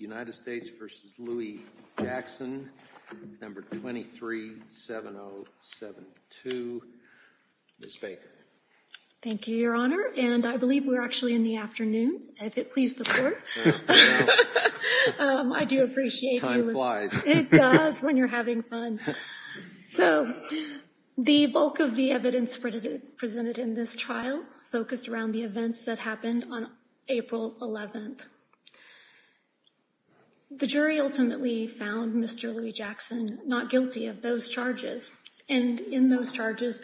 No. 23-7072. Ms. Baker. Thank you, Your Honor. And I believe we're actually in the afternoon if it pleased the Court. I do appreciate you listening. Time flies. It does when you're having fun. So, the bulk of the evidence presented in this trial focused around the events that happened on April 11th. The jury ultimately found Mr. Louie-Jackson not guilty of those charges, and in those charges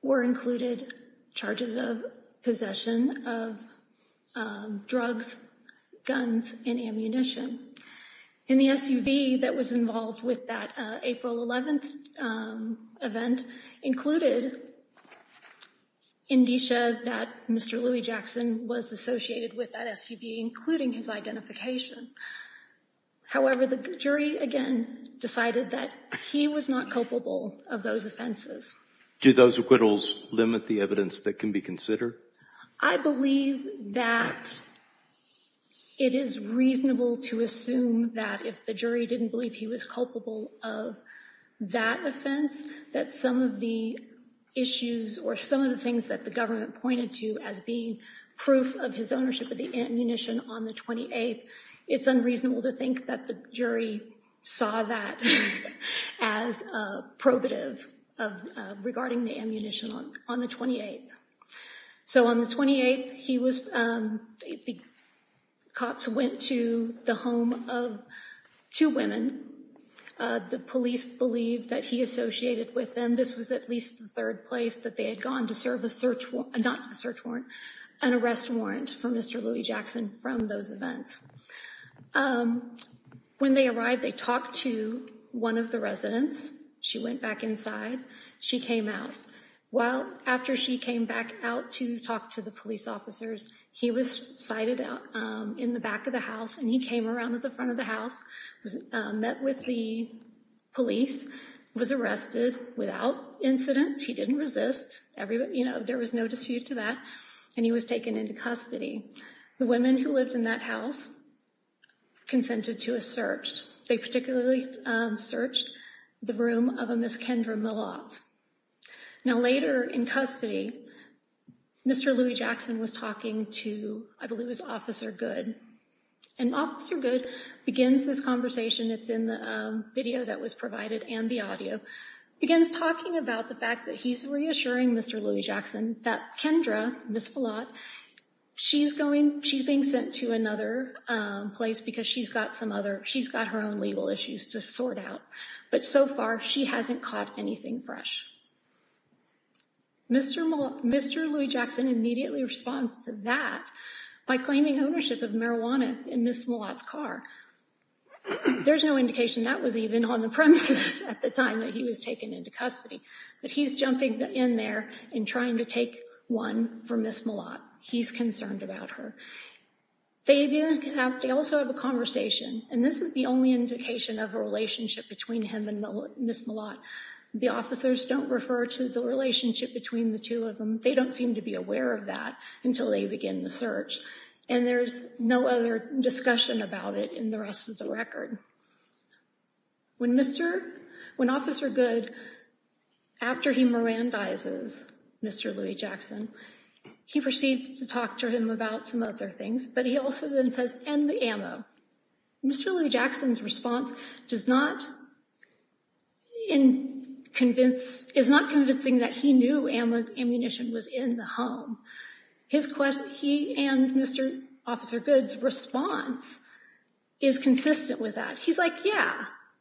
were included charges of possession of drugs, guns, and ammunition. And the SUV that was involved with that April 11th event included indicia that Mr. Louie-Jackson was associated with that SUV, including his identification. However, the jury again decided that he was not culpable of those offenses. Do those acquittals limit the evidence that can be considered? I believe that it is reasonable to assume that if the jury didn't believe he was culpable of that offense, that some of the issues or some of the things that the government pointed to as being proof of his ownership of the ammunition on the 28th, it's unreasonable to think that the jury saw that as probative regarding the ammunition on the 28th. So, on the 28th, he was, the cops went to the home of two women. The police believed that he associated with them. This was at least the third place that they had gone to serve a search warrant, not a search warrant, an arrest warrant for Mr. Louie-Jackson from those events. When they arrived, they talked to one of the residents. She went back inside. She came out. Well, after she came back out to talk to the police officers, he was sighted out in the back of the house and he came around to the front of the house, met with the police, was arrested without incident. He didn't resist. You know, there was no dispute to that. And he was taken into custody. The women who lived in that house consented to a search. They particularly searched the room of a Miss Kendra Millot. Now, later in custody, Mr. Louie-Jackson was talking to, I believe it was Officer Good. And Officer Good begins this conversation, it's in the video that was provided and the audio, begins talking about the fact that he's reassuring Mr. Louie-Jackson that Kendra, Miss Millot, she's going, she's being sent to another place because she's got some other, she's got her own legal issues to sort out. But so far, she hasn't caught anything fresh. Mr. Louie-Jackson immediately responds to that by claiming ownership of marijuana in Miss Millot's car. There's no indication that was even on the premises at the time that he was taken into custody. But he's jumping in there and trying to take one for Miss Millot. He's concerned about her. They also have a conversation. And this is the only indication of a relationship between him and Miss Millot. The officers don't refer to the relationship between the two of them. They don't seem to be aware of that until they begin the search. And there's no other discussion about it in the rest of the record. When Mr., when Officer Good, after he Mirandizes Mr. Louie-Jackson, he proceeds to talk to him about some other things. But he also then says, and the ammo. Mr. Louie-Jackson's response does not convince, is not convincing that he knew ammo's ammunition was in the home. His question, he and Mr. Officer Good's response is consistent with that. He's like, yeah,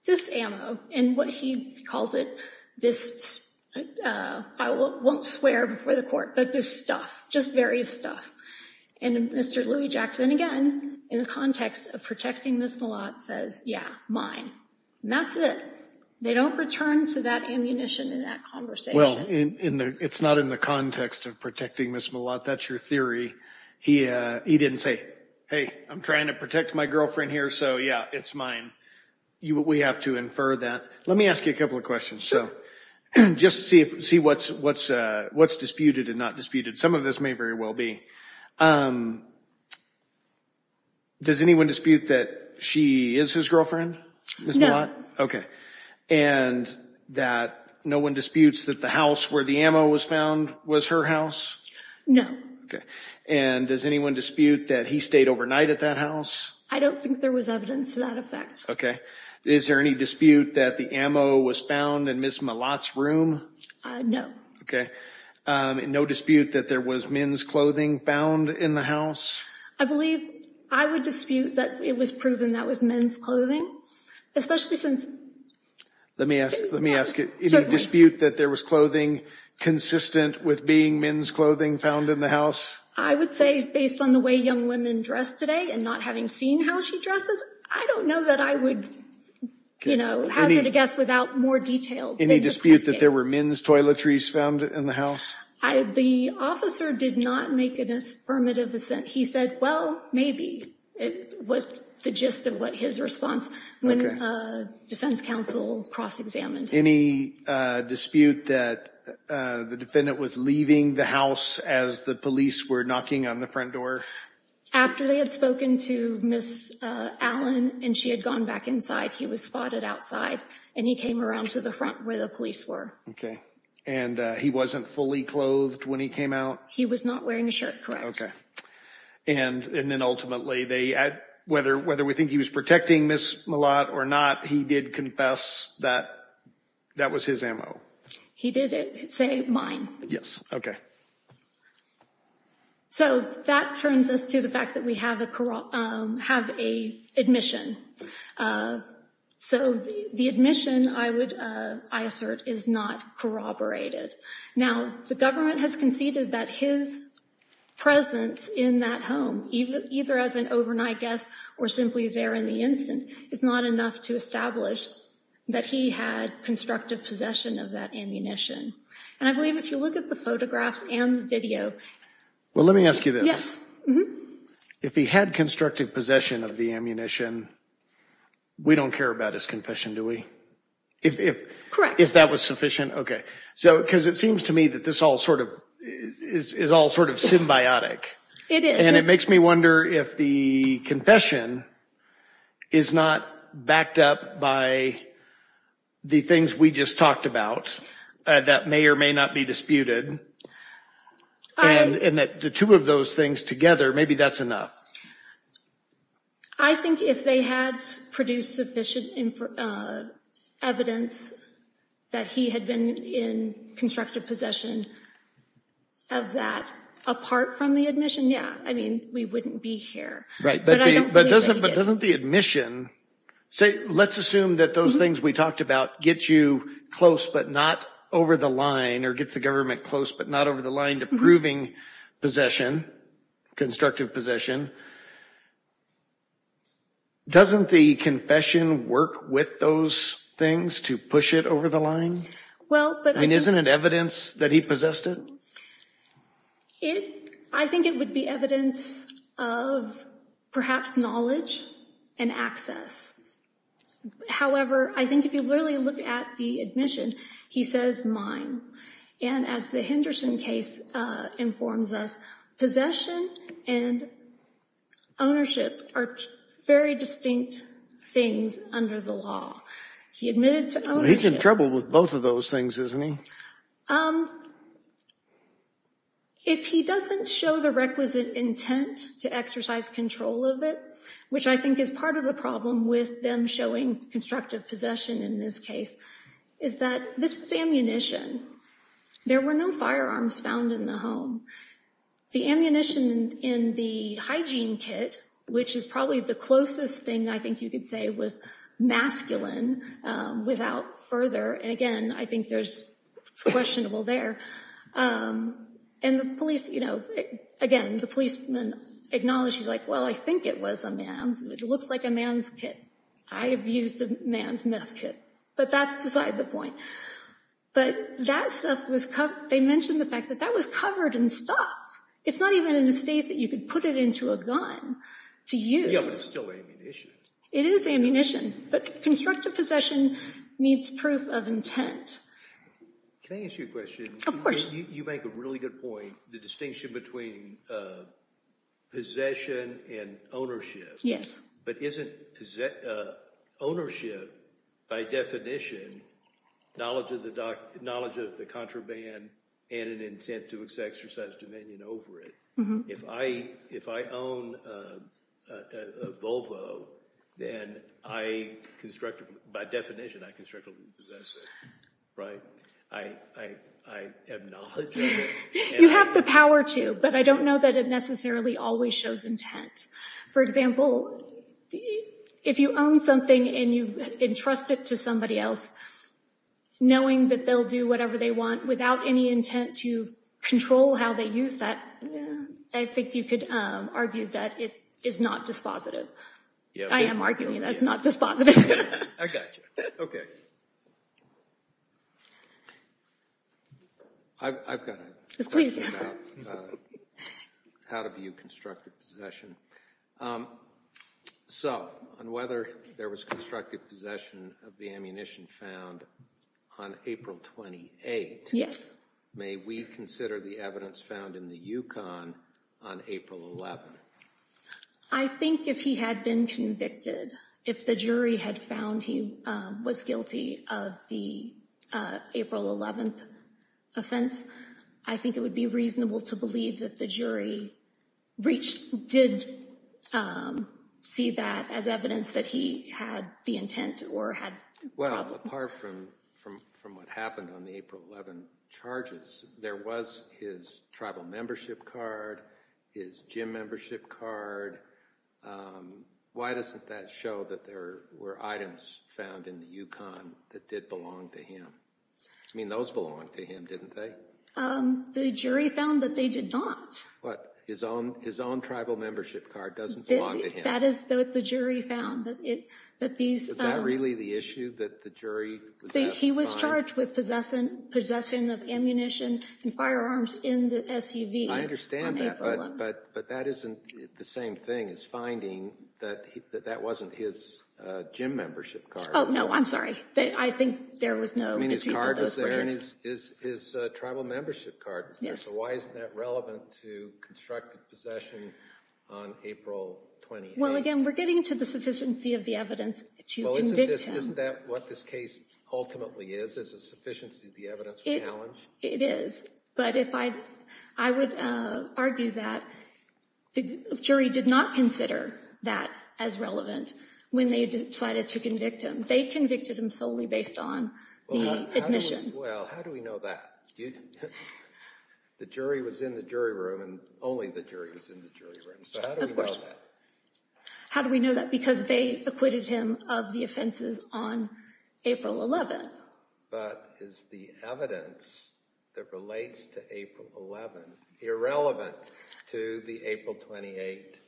this ammo, and what he calls it, this, I won't swear before the court, but this stuff, just various stuff. And Mr. Louie-Jackson, again, in the context of protecting Miss Millot, says, yeah, mine. And that's it. They don't return to that ammunition in that conversation. Well, it's not in the context of protecting Miss Millot. That's your theory. He didn't say, hey, I'm trying to protect my girlfriend here, so yeah, it's mine. We have to infer that. Let me ask you a couple of questions. So just see what's disputed and not disputed. Some of this may very well be. Does anyone dispute that she is his girlfriend? No. Okay. And that no one disputes that the house where the ammo was found was her house? No. Okay. And does anyone dispute that he stayed overnight at that house? I don't think there was evidence to that effect. Okay. Is there any dispute that the ammo was found in Miss Millot's room? No. Okay. And no dispute that there was men's clothing found in the house? I believe I would dispute that it was proven that was men's clothing, especially since. Let me ask, let me ask it. Any dispute that there was clothing consistent with being men's clothing found in the house? I would say based on the way young women dress today and not having seen how she dresses, I don't know that I would, you know, hazard a guess without more detail. Any dispute that there were men's toiletries found in the house? The officer did not make an affirmative assent. He said, well, maybe it was the gist of what his response when defense counsel cross examined. Any dispute that the defendant was leaving the house as the police were knocking on the front door after they had spoken to Miss Allen and she had gone back inside? He was spotted outside and he came around to the front where the police were. Okay. And he wasn't fully clothed when he came out? He was not wearing a shirt, correct? Okay. And and then ultimately they, whether whether we think he was protecting Miss Millot or not, he did confess that that was his ammo. He did say mine. Yes. Okay. So that turns us to the fact that we have a have a admission. So the admission I would I assert is not corroborated. Now, the government has conceded that his presence in that home, either as an overnight guest or simply there in the instant, is not enough to establish that he had constructive possession of that ammunition. And I believe if you look at the photographs and video. Well, let me ask you this. If he had constructive possession of the ammunition, we don't care about his confession, do we? If if if that was sufficient. Okay. So because it seems to me that this all sort of is all sort of symbiotic. It is. And it makes me wonder if the confession is not backed up by the things we just talked about that may or may not be disputed. And that the two of those things together, maybe that's enough. I think if they had produced sufficient evidence that he had been in constructive possession of that apart from the admission. Yeah. I mean, we wouldn't be here. Right. But doesn't but doesn't the admission say let's assume that those things we talked about get you close, but not over the line or gets the government close, but not over the line to proving possession, constructive possession. Doesn't the confession work with those things to push it over the line? Well, but isn't it evidence that he possessed it? It I think it would be evidence of perhaps knowledge and access. However, I think if you really look at the admission, he says mine. And as the Henderson case informs us, possession and ownership are very distinct things under the law. He admitted to ownership. He's in trouble with both of those things, isn't he? If he doesn't show the requisite intent to exercise control of it, which I think is part of the problem with them showing constructive possession in this case, is that this is ammunition. There were no firearms found in the home. The ammunition in the hygiene kit, which is probably the closest thing I think you could say was masculine without further. And again, I think there's questionable there. And the police, you know, again, the policeman acknowledges like, well, I think it was a man's. It looks like a man's kit. I have used a man's meth kit. But that's beside the point. But that stuff was they mentioned the fact that that was covered in stuff. It's not even in the state that you could put it into a gun to use. It is ammunition. But constructive possession needs proof of intent. Can I ask you a question? Of course. You make a really good point. The distinction between possession and ownership. Yes. But isn't ownership, by definition, knowledge of the contraband and an intent to exercise dominion over it? If I own a Volvo, then I constructively, by definition, I constructively possess it. Right? I have knowledge of it. You have the power to, but I don't know that it necessarily always shows intent. For example, if you own something and you entrust it to somebody else, knowing that they'll do whatever they want without any intent to control how they use that, I think you could argue that it is not dispositive. I am arguing that's not dispositive. I got you. OK. I've got a question about how to view constructive possession. So on whether there was constructive possession of the ammunition found on April 28, may we consider the evidence found in the Yukon on April 11? I think if he had been convicted, if the jury had found he was guilty of the April 11 offense, I think it would be reasonable to believe that the jury did see that as evidence that he had the intent or had— Well, apart from what happened on the April 11 charges, there was his tribal membership card, his gym membership card. Why doesn't that show that there were items found in the Yukon that did belong to him? I mean, those belonged to him, didn't they? The jury found that they did not. What? His own tribal membership card doesn't belong to him? That is what the jury found. Is that really the issue that the jury was asked to find? He was charged with possession of ammunition and firearms in the SUV on April 11. I understand that, but that isn't the same thing as finding that that wasn't his gym membership card. Oh, no, I'm sorry. I think there was no dispute of those rights. I mean, his card was there and his tribal membership card was there. So why isn't that relevant to constructive possession on April 28? Well, again, we're getting to the sufficiency of the evidence to convict him. Well, isn't that what this case ultimately is, is a sufficiency of the evidence challenge? It is. But I would argue that the jury did not consider that as relevant when they decided to convict him. They convicted him solely based on the admission. Well, how do we know that? The jury was in the jury room and only the jury was in the jury room. So how do we know that? How do we know that? Because they acquitted him of the offenses on April 11. But is the evidence that relates to April 11 irrelevant to the April 28?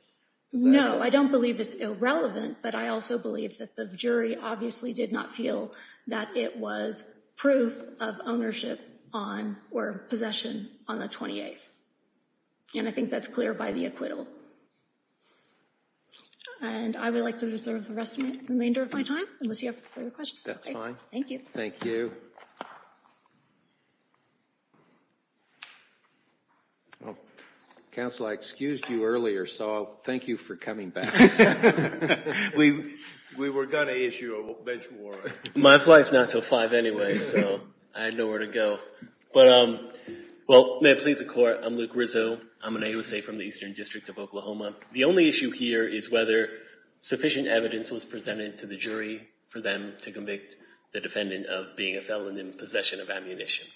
No, I don't believe it's irrelevant. But I also believe that the jury obviously did not feel that it was proof of ownership on or possession on the 28th. And I think that's clear by the acquittal. And I would like to reserve the remainder of my time, unless you have further questions. That's fine. Thank you. Thank you. Counsel, I excused you earlier, so thank you for coming back. We were going to issue a bench warrant. My flight's not until 5 anyway, so I had nowhere to go. But, well, may it please the Court, I'm Luke Rizzo. I'm an AUSA from the Eastern District of Oklahoma. The only issue here is whether sufficient evidence was presented to the jury for them to convict the defendant of being a felon in possession of ammunition.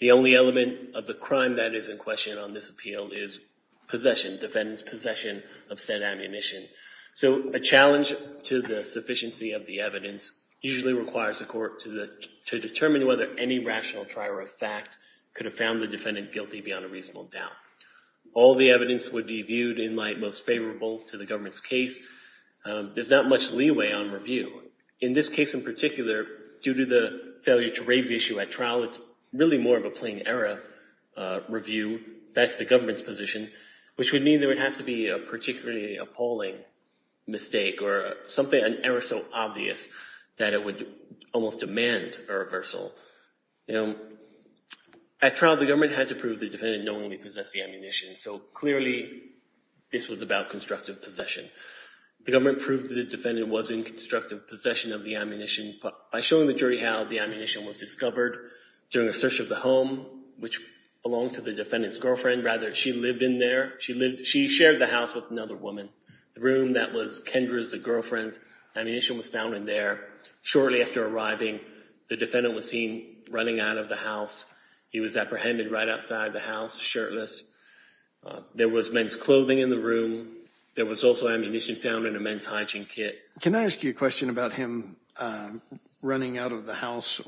The only element of the crime that is in question on this appeal is possession, defendant's possession of said ammunition. So a challenge to the sufficiency of the evidence usually requires the Court to determine whether any rational trier of fact could have found the defendant guilty beyond a reasonable doubt. All the evidence would be viewed in light most favorable to the government's case. There's not much leeway on review. In this case in particular, due to the failure to raise the issue at trial, it's really more of a plain error review. That's the government's position, which would mean there would have to be a particularly appalling mistake or an error so obvious that it would almost demand a reversal. At trial, the government had to prove the defendant knowingly possessed the ammunition, so clearly this was about constructive possession. The government proved that the defendant was in constructive possession of the ammunition by showing the jury how the ammunition was discovered during a search of the home, which belonged to the defendant's girlfriend. Rather, she lived in there. She shared the house with another woman. The room that was Kendra's, the girlfriend's, ammunition was found in there. Shortly after arriving, the defendant was seen running out of the house. He was apprehended right outside the house, shirtless. There was men's clothing in the room. There was also ammunition found in a men's hygiene kit. Can I ask you a question about him running out of the house?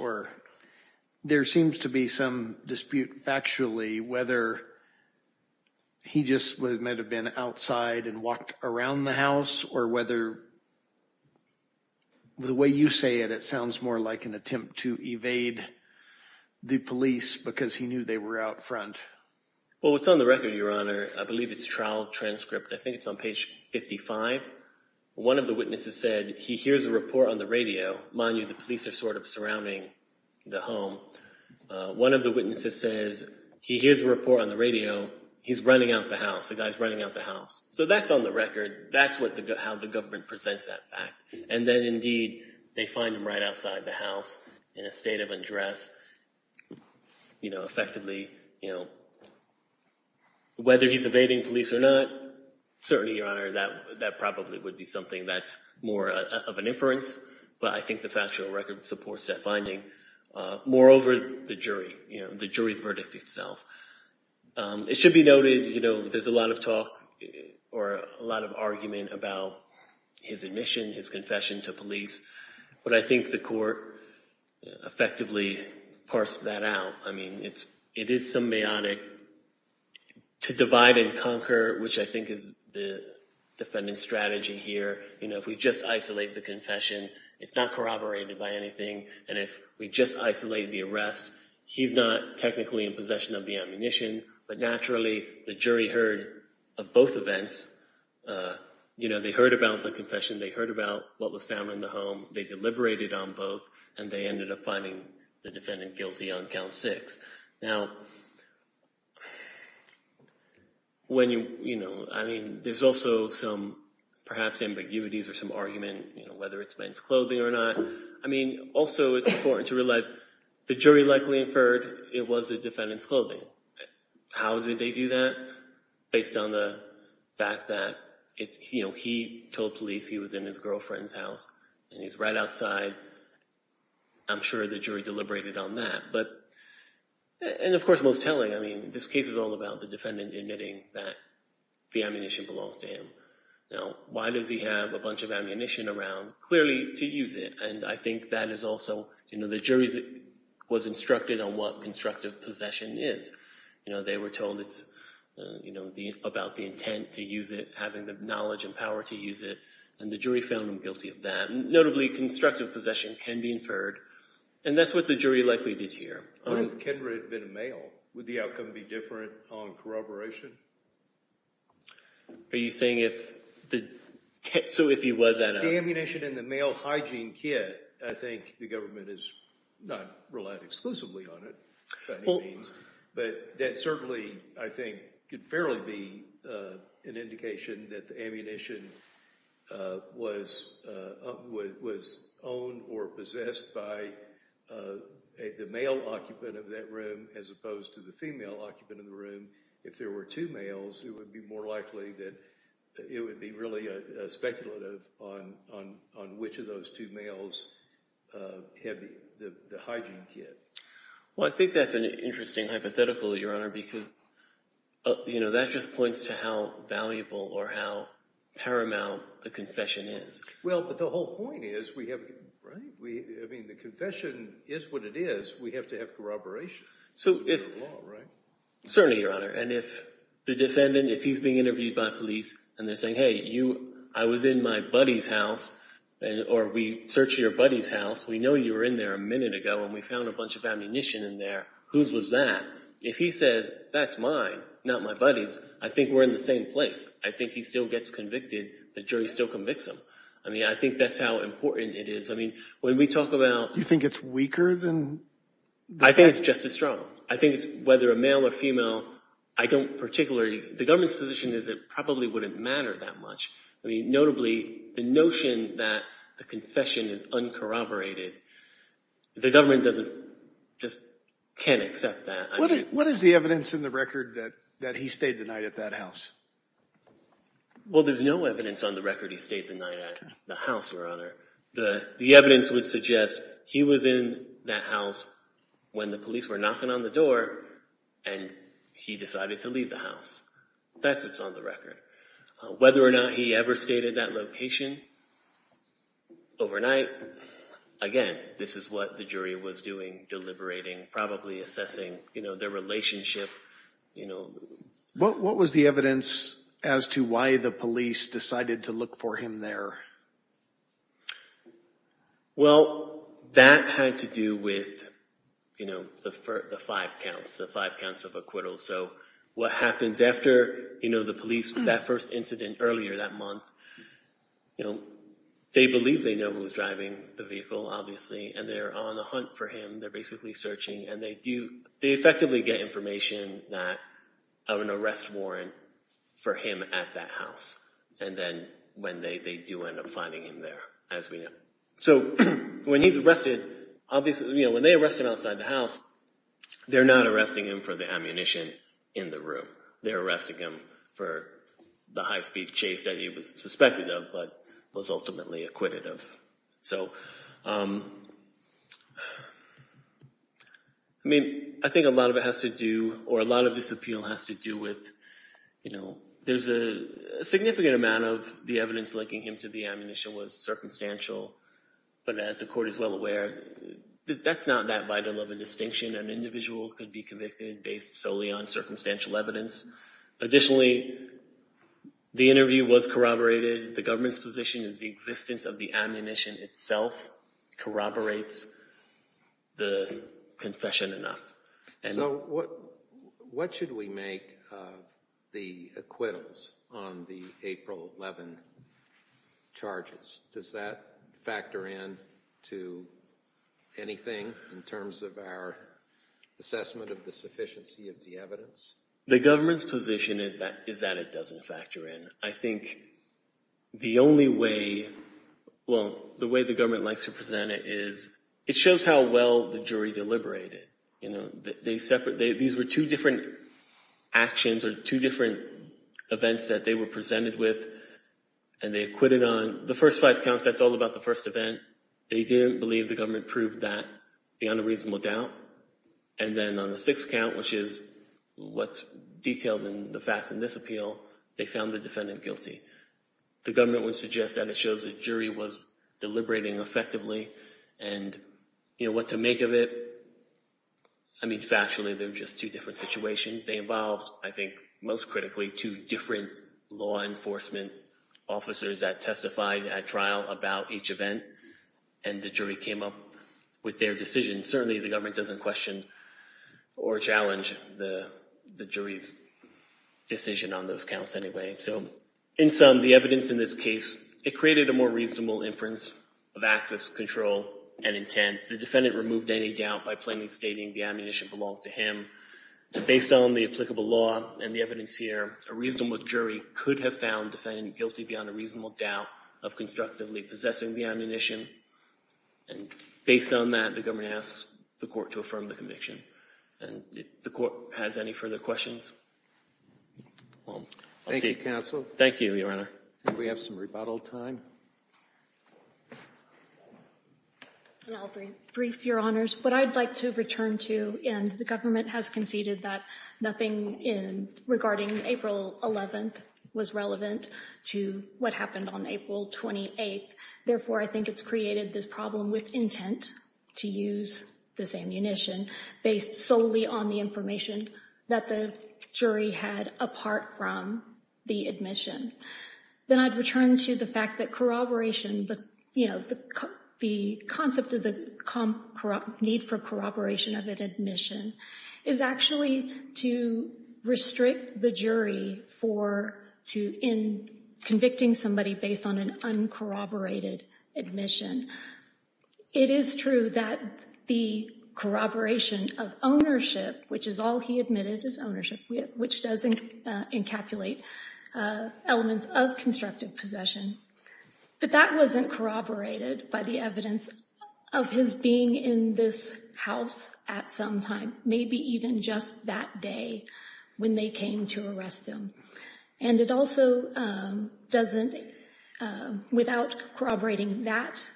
There seems to be some dispute factually whether he just might have been outside and walked around the house or whether the way you say it, it sounds more like an attempt to evade the police because he knew they were out front. Well, what's on the record, Your Honor, I believe it's a trial transcript. I think it's on page 55. One of the witnesses said, he hears a report on the radio. Mind you, the police are sort of surrounding the home. One of the witnesses says, he hears a report on the radio. He's running out the house. The guy's running out the house. So that's on the record. That's how the government presents that fact. And then, indeed, they find him right outside the house in a state of undress. Effectively, whether he's evading police or not, certainly, Your Honor, that probably would be something that's more of an inference. But I think the factual record supports that finding. Moreover, the jury, the jury's verdict itself. It should be noted, there's a lot of talk or a lot of argument about his admission, his confession to police. But I think the court effectively parsed that out. I mean, it is symbiotic to divide and conquer, which I think is the defendant's strategy here. You know, if we just isolate the confession, it's not corroborated by anything. And if we just isolate the arrest, he's not technically in possession of the ammunition. But naturally, the jury heard of both events. You know, they heard about the confession. They heard about what was found in the home. They deliberated on both, and they ended up finding the defendant guilty on count six. Now, when you, you know, I mean, there's also some, perhaps, ambiguities or some argument, you know, whether it's men's clothing or not. I mean, also, it's important to realize the jury likely inferred it was the defendant's clothing. How did they do that? Based on the fact that, you know, he told police he was in his girlfriend's house, and he's right outside. I'm sure the jury deliberated on that. But, and of course, most telling, I mean, this case is all about the defendant admitting that the ammunition belonged to him. Now, why does he have a bunch of ammunition around, clearly, to use it? And I think that is also, you know, the jury was instructed on what constructive possession is. You know, they were told it's, you know, about the intent to use it, having the knowledge and power to use it. And the jury found him guilty of that. Notably, constructive possession can be inferred. And that's what the jury likely did here. What if Kendra had been a male? Would the outcome be different on corroboration? Are you saying if the, so if he was at a… The ammunition in the male hygiene kit, I think the government has not relied exclusively on it, by any means. But that certainly, I think, could fairly be an indication that the ammunition was owned or possessed by the male occupant of that room, as opposed to the female occupant of the room. And if there were two males, it would be more likely that it would be really speculative on which of those two males had the hygiene kit. Well, I think that's an interesting hypothetical, Your Honor, because, you know, that just points to how valuable or how paramount the confession is. Well, but the whole point is we have, right? I mean, the confession is what it is. We have to have corroboration. So if… It's a law, right? Certainly, Your Honor. And if the defendant, if he's being interviewed by police and they're saying, hey, you, I was in my buddy's house, or we searched your buddy's house. We know you were in there a minute ago, and we found a bunch of ammunition in there. Whose was that? If he says, that's mine, not my buddy's, I think we're in the same place. I think he still gets convicted. The jury still convicts him. I mean, I think that's how important it is. I mean, when we talk about… You think it's weaker than… I think it's just as strong. I think it's, whether a male or female, I don't particularly, the government's position is it probably wouldn't matter that much. I mean, notably, the notion that the confession is uncorroborated, the government doesn't, just can't accept that. What is the evidence in the record that he stayed the night at that house? Well, there's no evidence on the record he stayed the night at the house, Your Honor. The evidence would suggest he was in that house when the police were knocking on the door, and he decided to leave the house. That's what's on the record. Whether or not he ever stayed at that location overnight, again, this is what the jury was doing, deliberating, probably assessing their relationship. What was the evidence as to why the police decided to look for him there? Well, that had to do with the five counts, the five counts of acquittal. So what happens after the police, that first incident earlier that month, they believe they know who was driving the vehicle, obviously, and they're on a hunt for him. They're basically searching, and they effectively get information of an arrest warrant for him at that house. And then they do end up finding him there, as we know. So when he's arrested, obviously, when they arrest him outside the house, they're not arresting him for the ammunition in the room. They're arresting him for the high-speed chase that he was suspected of, but was ultimately acquitted of. So, I mean, I think a lot of it has to do, or a lot of this appeal has to do with, you know, there's a significant amount of the evidence linking him to the ammunition was circumstantial. But as the court is well aware, that's not that vital of a distinction. An individual could be convicted based solely on circumstantial evidence. Additionally, the interview was corroborated. The government's position is the existence of the ammunition itself corroborates the confession enough. So what should we make of the acquittals on the April 11 charges? Does that factor in to anything in terms of our assessment of the sufficiency of the evidence? The government's position is that it doesn't factor in. I think the only way, well, the way the government likes to present it is it shows how well the jury deliberated. You know, these were two different actions or two different events that they were presented with, and they acquitted on the first five counts. That's all about the first event. They didn't believe the government proved that beyond a reasonable doubt. And then on the sixth count, which is what's detailed in the facts in this appeal, they found the defendant guilty. The government would suggest that it shows the jury was deliberating effectively and, you know, what to make of it. I mean, factually, they're just two different situations. They involved, I think most critically, two different law enforcement officers that testified at trial about each event, and the jury came up with their decision. And certainly the government doesn't question or challenge the jury's decision on those counts anyway. So in sum, the evidence in this case, it created a more reasonable inference of access, control, and intent. The defendant removed any doubt by plainly stating the ammunition belonged to him. Based on the applicable law and the evidence here, a reasonable jury could have found the defendant guilty beyond a reasonable doubt of constructively possessing the ammunition. And based on that, the government asks the court to affirm the conviction. And if the court has any further questions, I'll see you. Thank you, counsel. Thank you, Your Honor. Do we have some rebuttal time? I'll be brief, Your Honors. What I'd like to return to, and the government has conceded that nothing regarding April 11th was relevant to what happened on April 28th. Therefore, I think it's created this problem with intent to use this ammunition based solely on the information that the jury had apart from the admission. Then I'd return to the fact that corroboration, the concept of the need for corroboration of an admission, is actually to restrict the jury in convicting somebody based on an uncorroborated admission. It is true that the corroboration of ownership, which is all he admitted is ownership, which does encapsulate elements of constructive possession, but that wasn't corroborated by the evidence of his being in this house at some time, maybe even just that day when they came to arrest him. It also doesn't, without corroborating that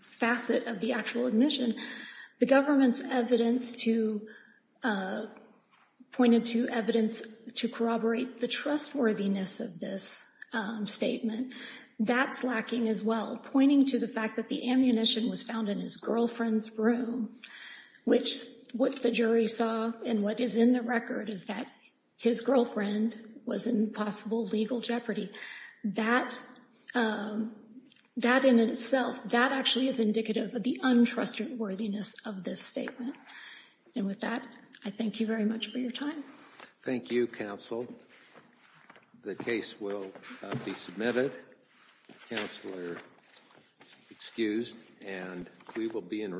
facet of the actual admission, the government's evidence pointed to evidence to corroborate the trustworthiness of this statement. That's lacking as well, pointing to the fact that the ammunition was found in his girlfriend's room, which what the jury saw and what is in the record is that his girlfriend was in possible legal jeopardy. That in itself, that actually is indicative of the untrustworthiness of this statement. And with that, I thank you very much for your time. Thank you, counsel. The case will be submitted. Counselor excused, and we will be in recess.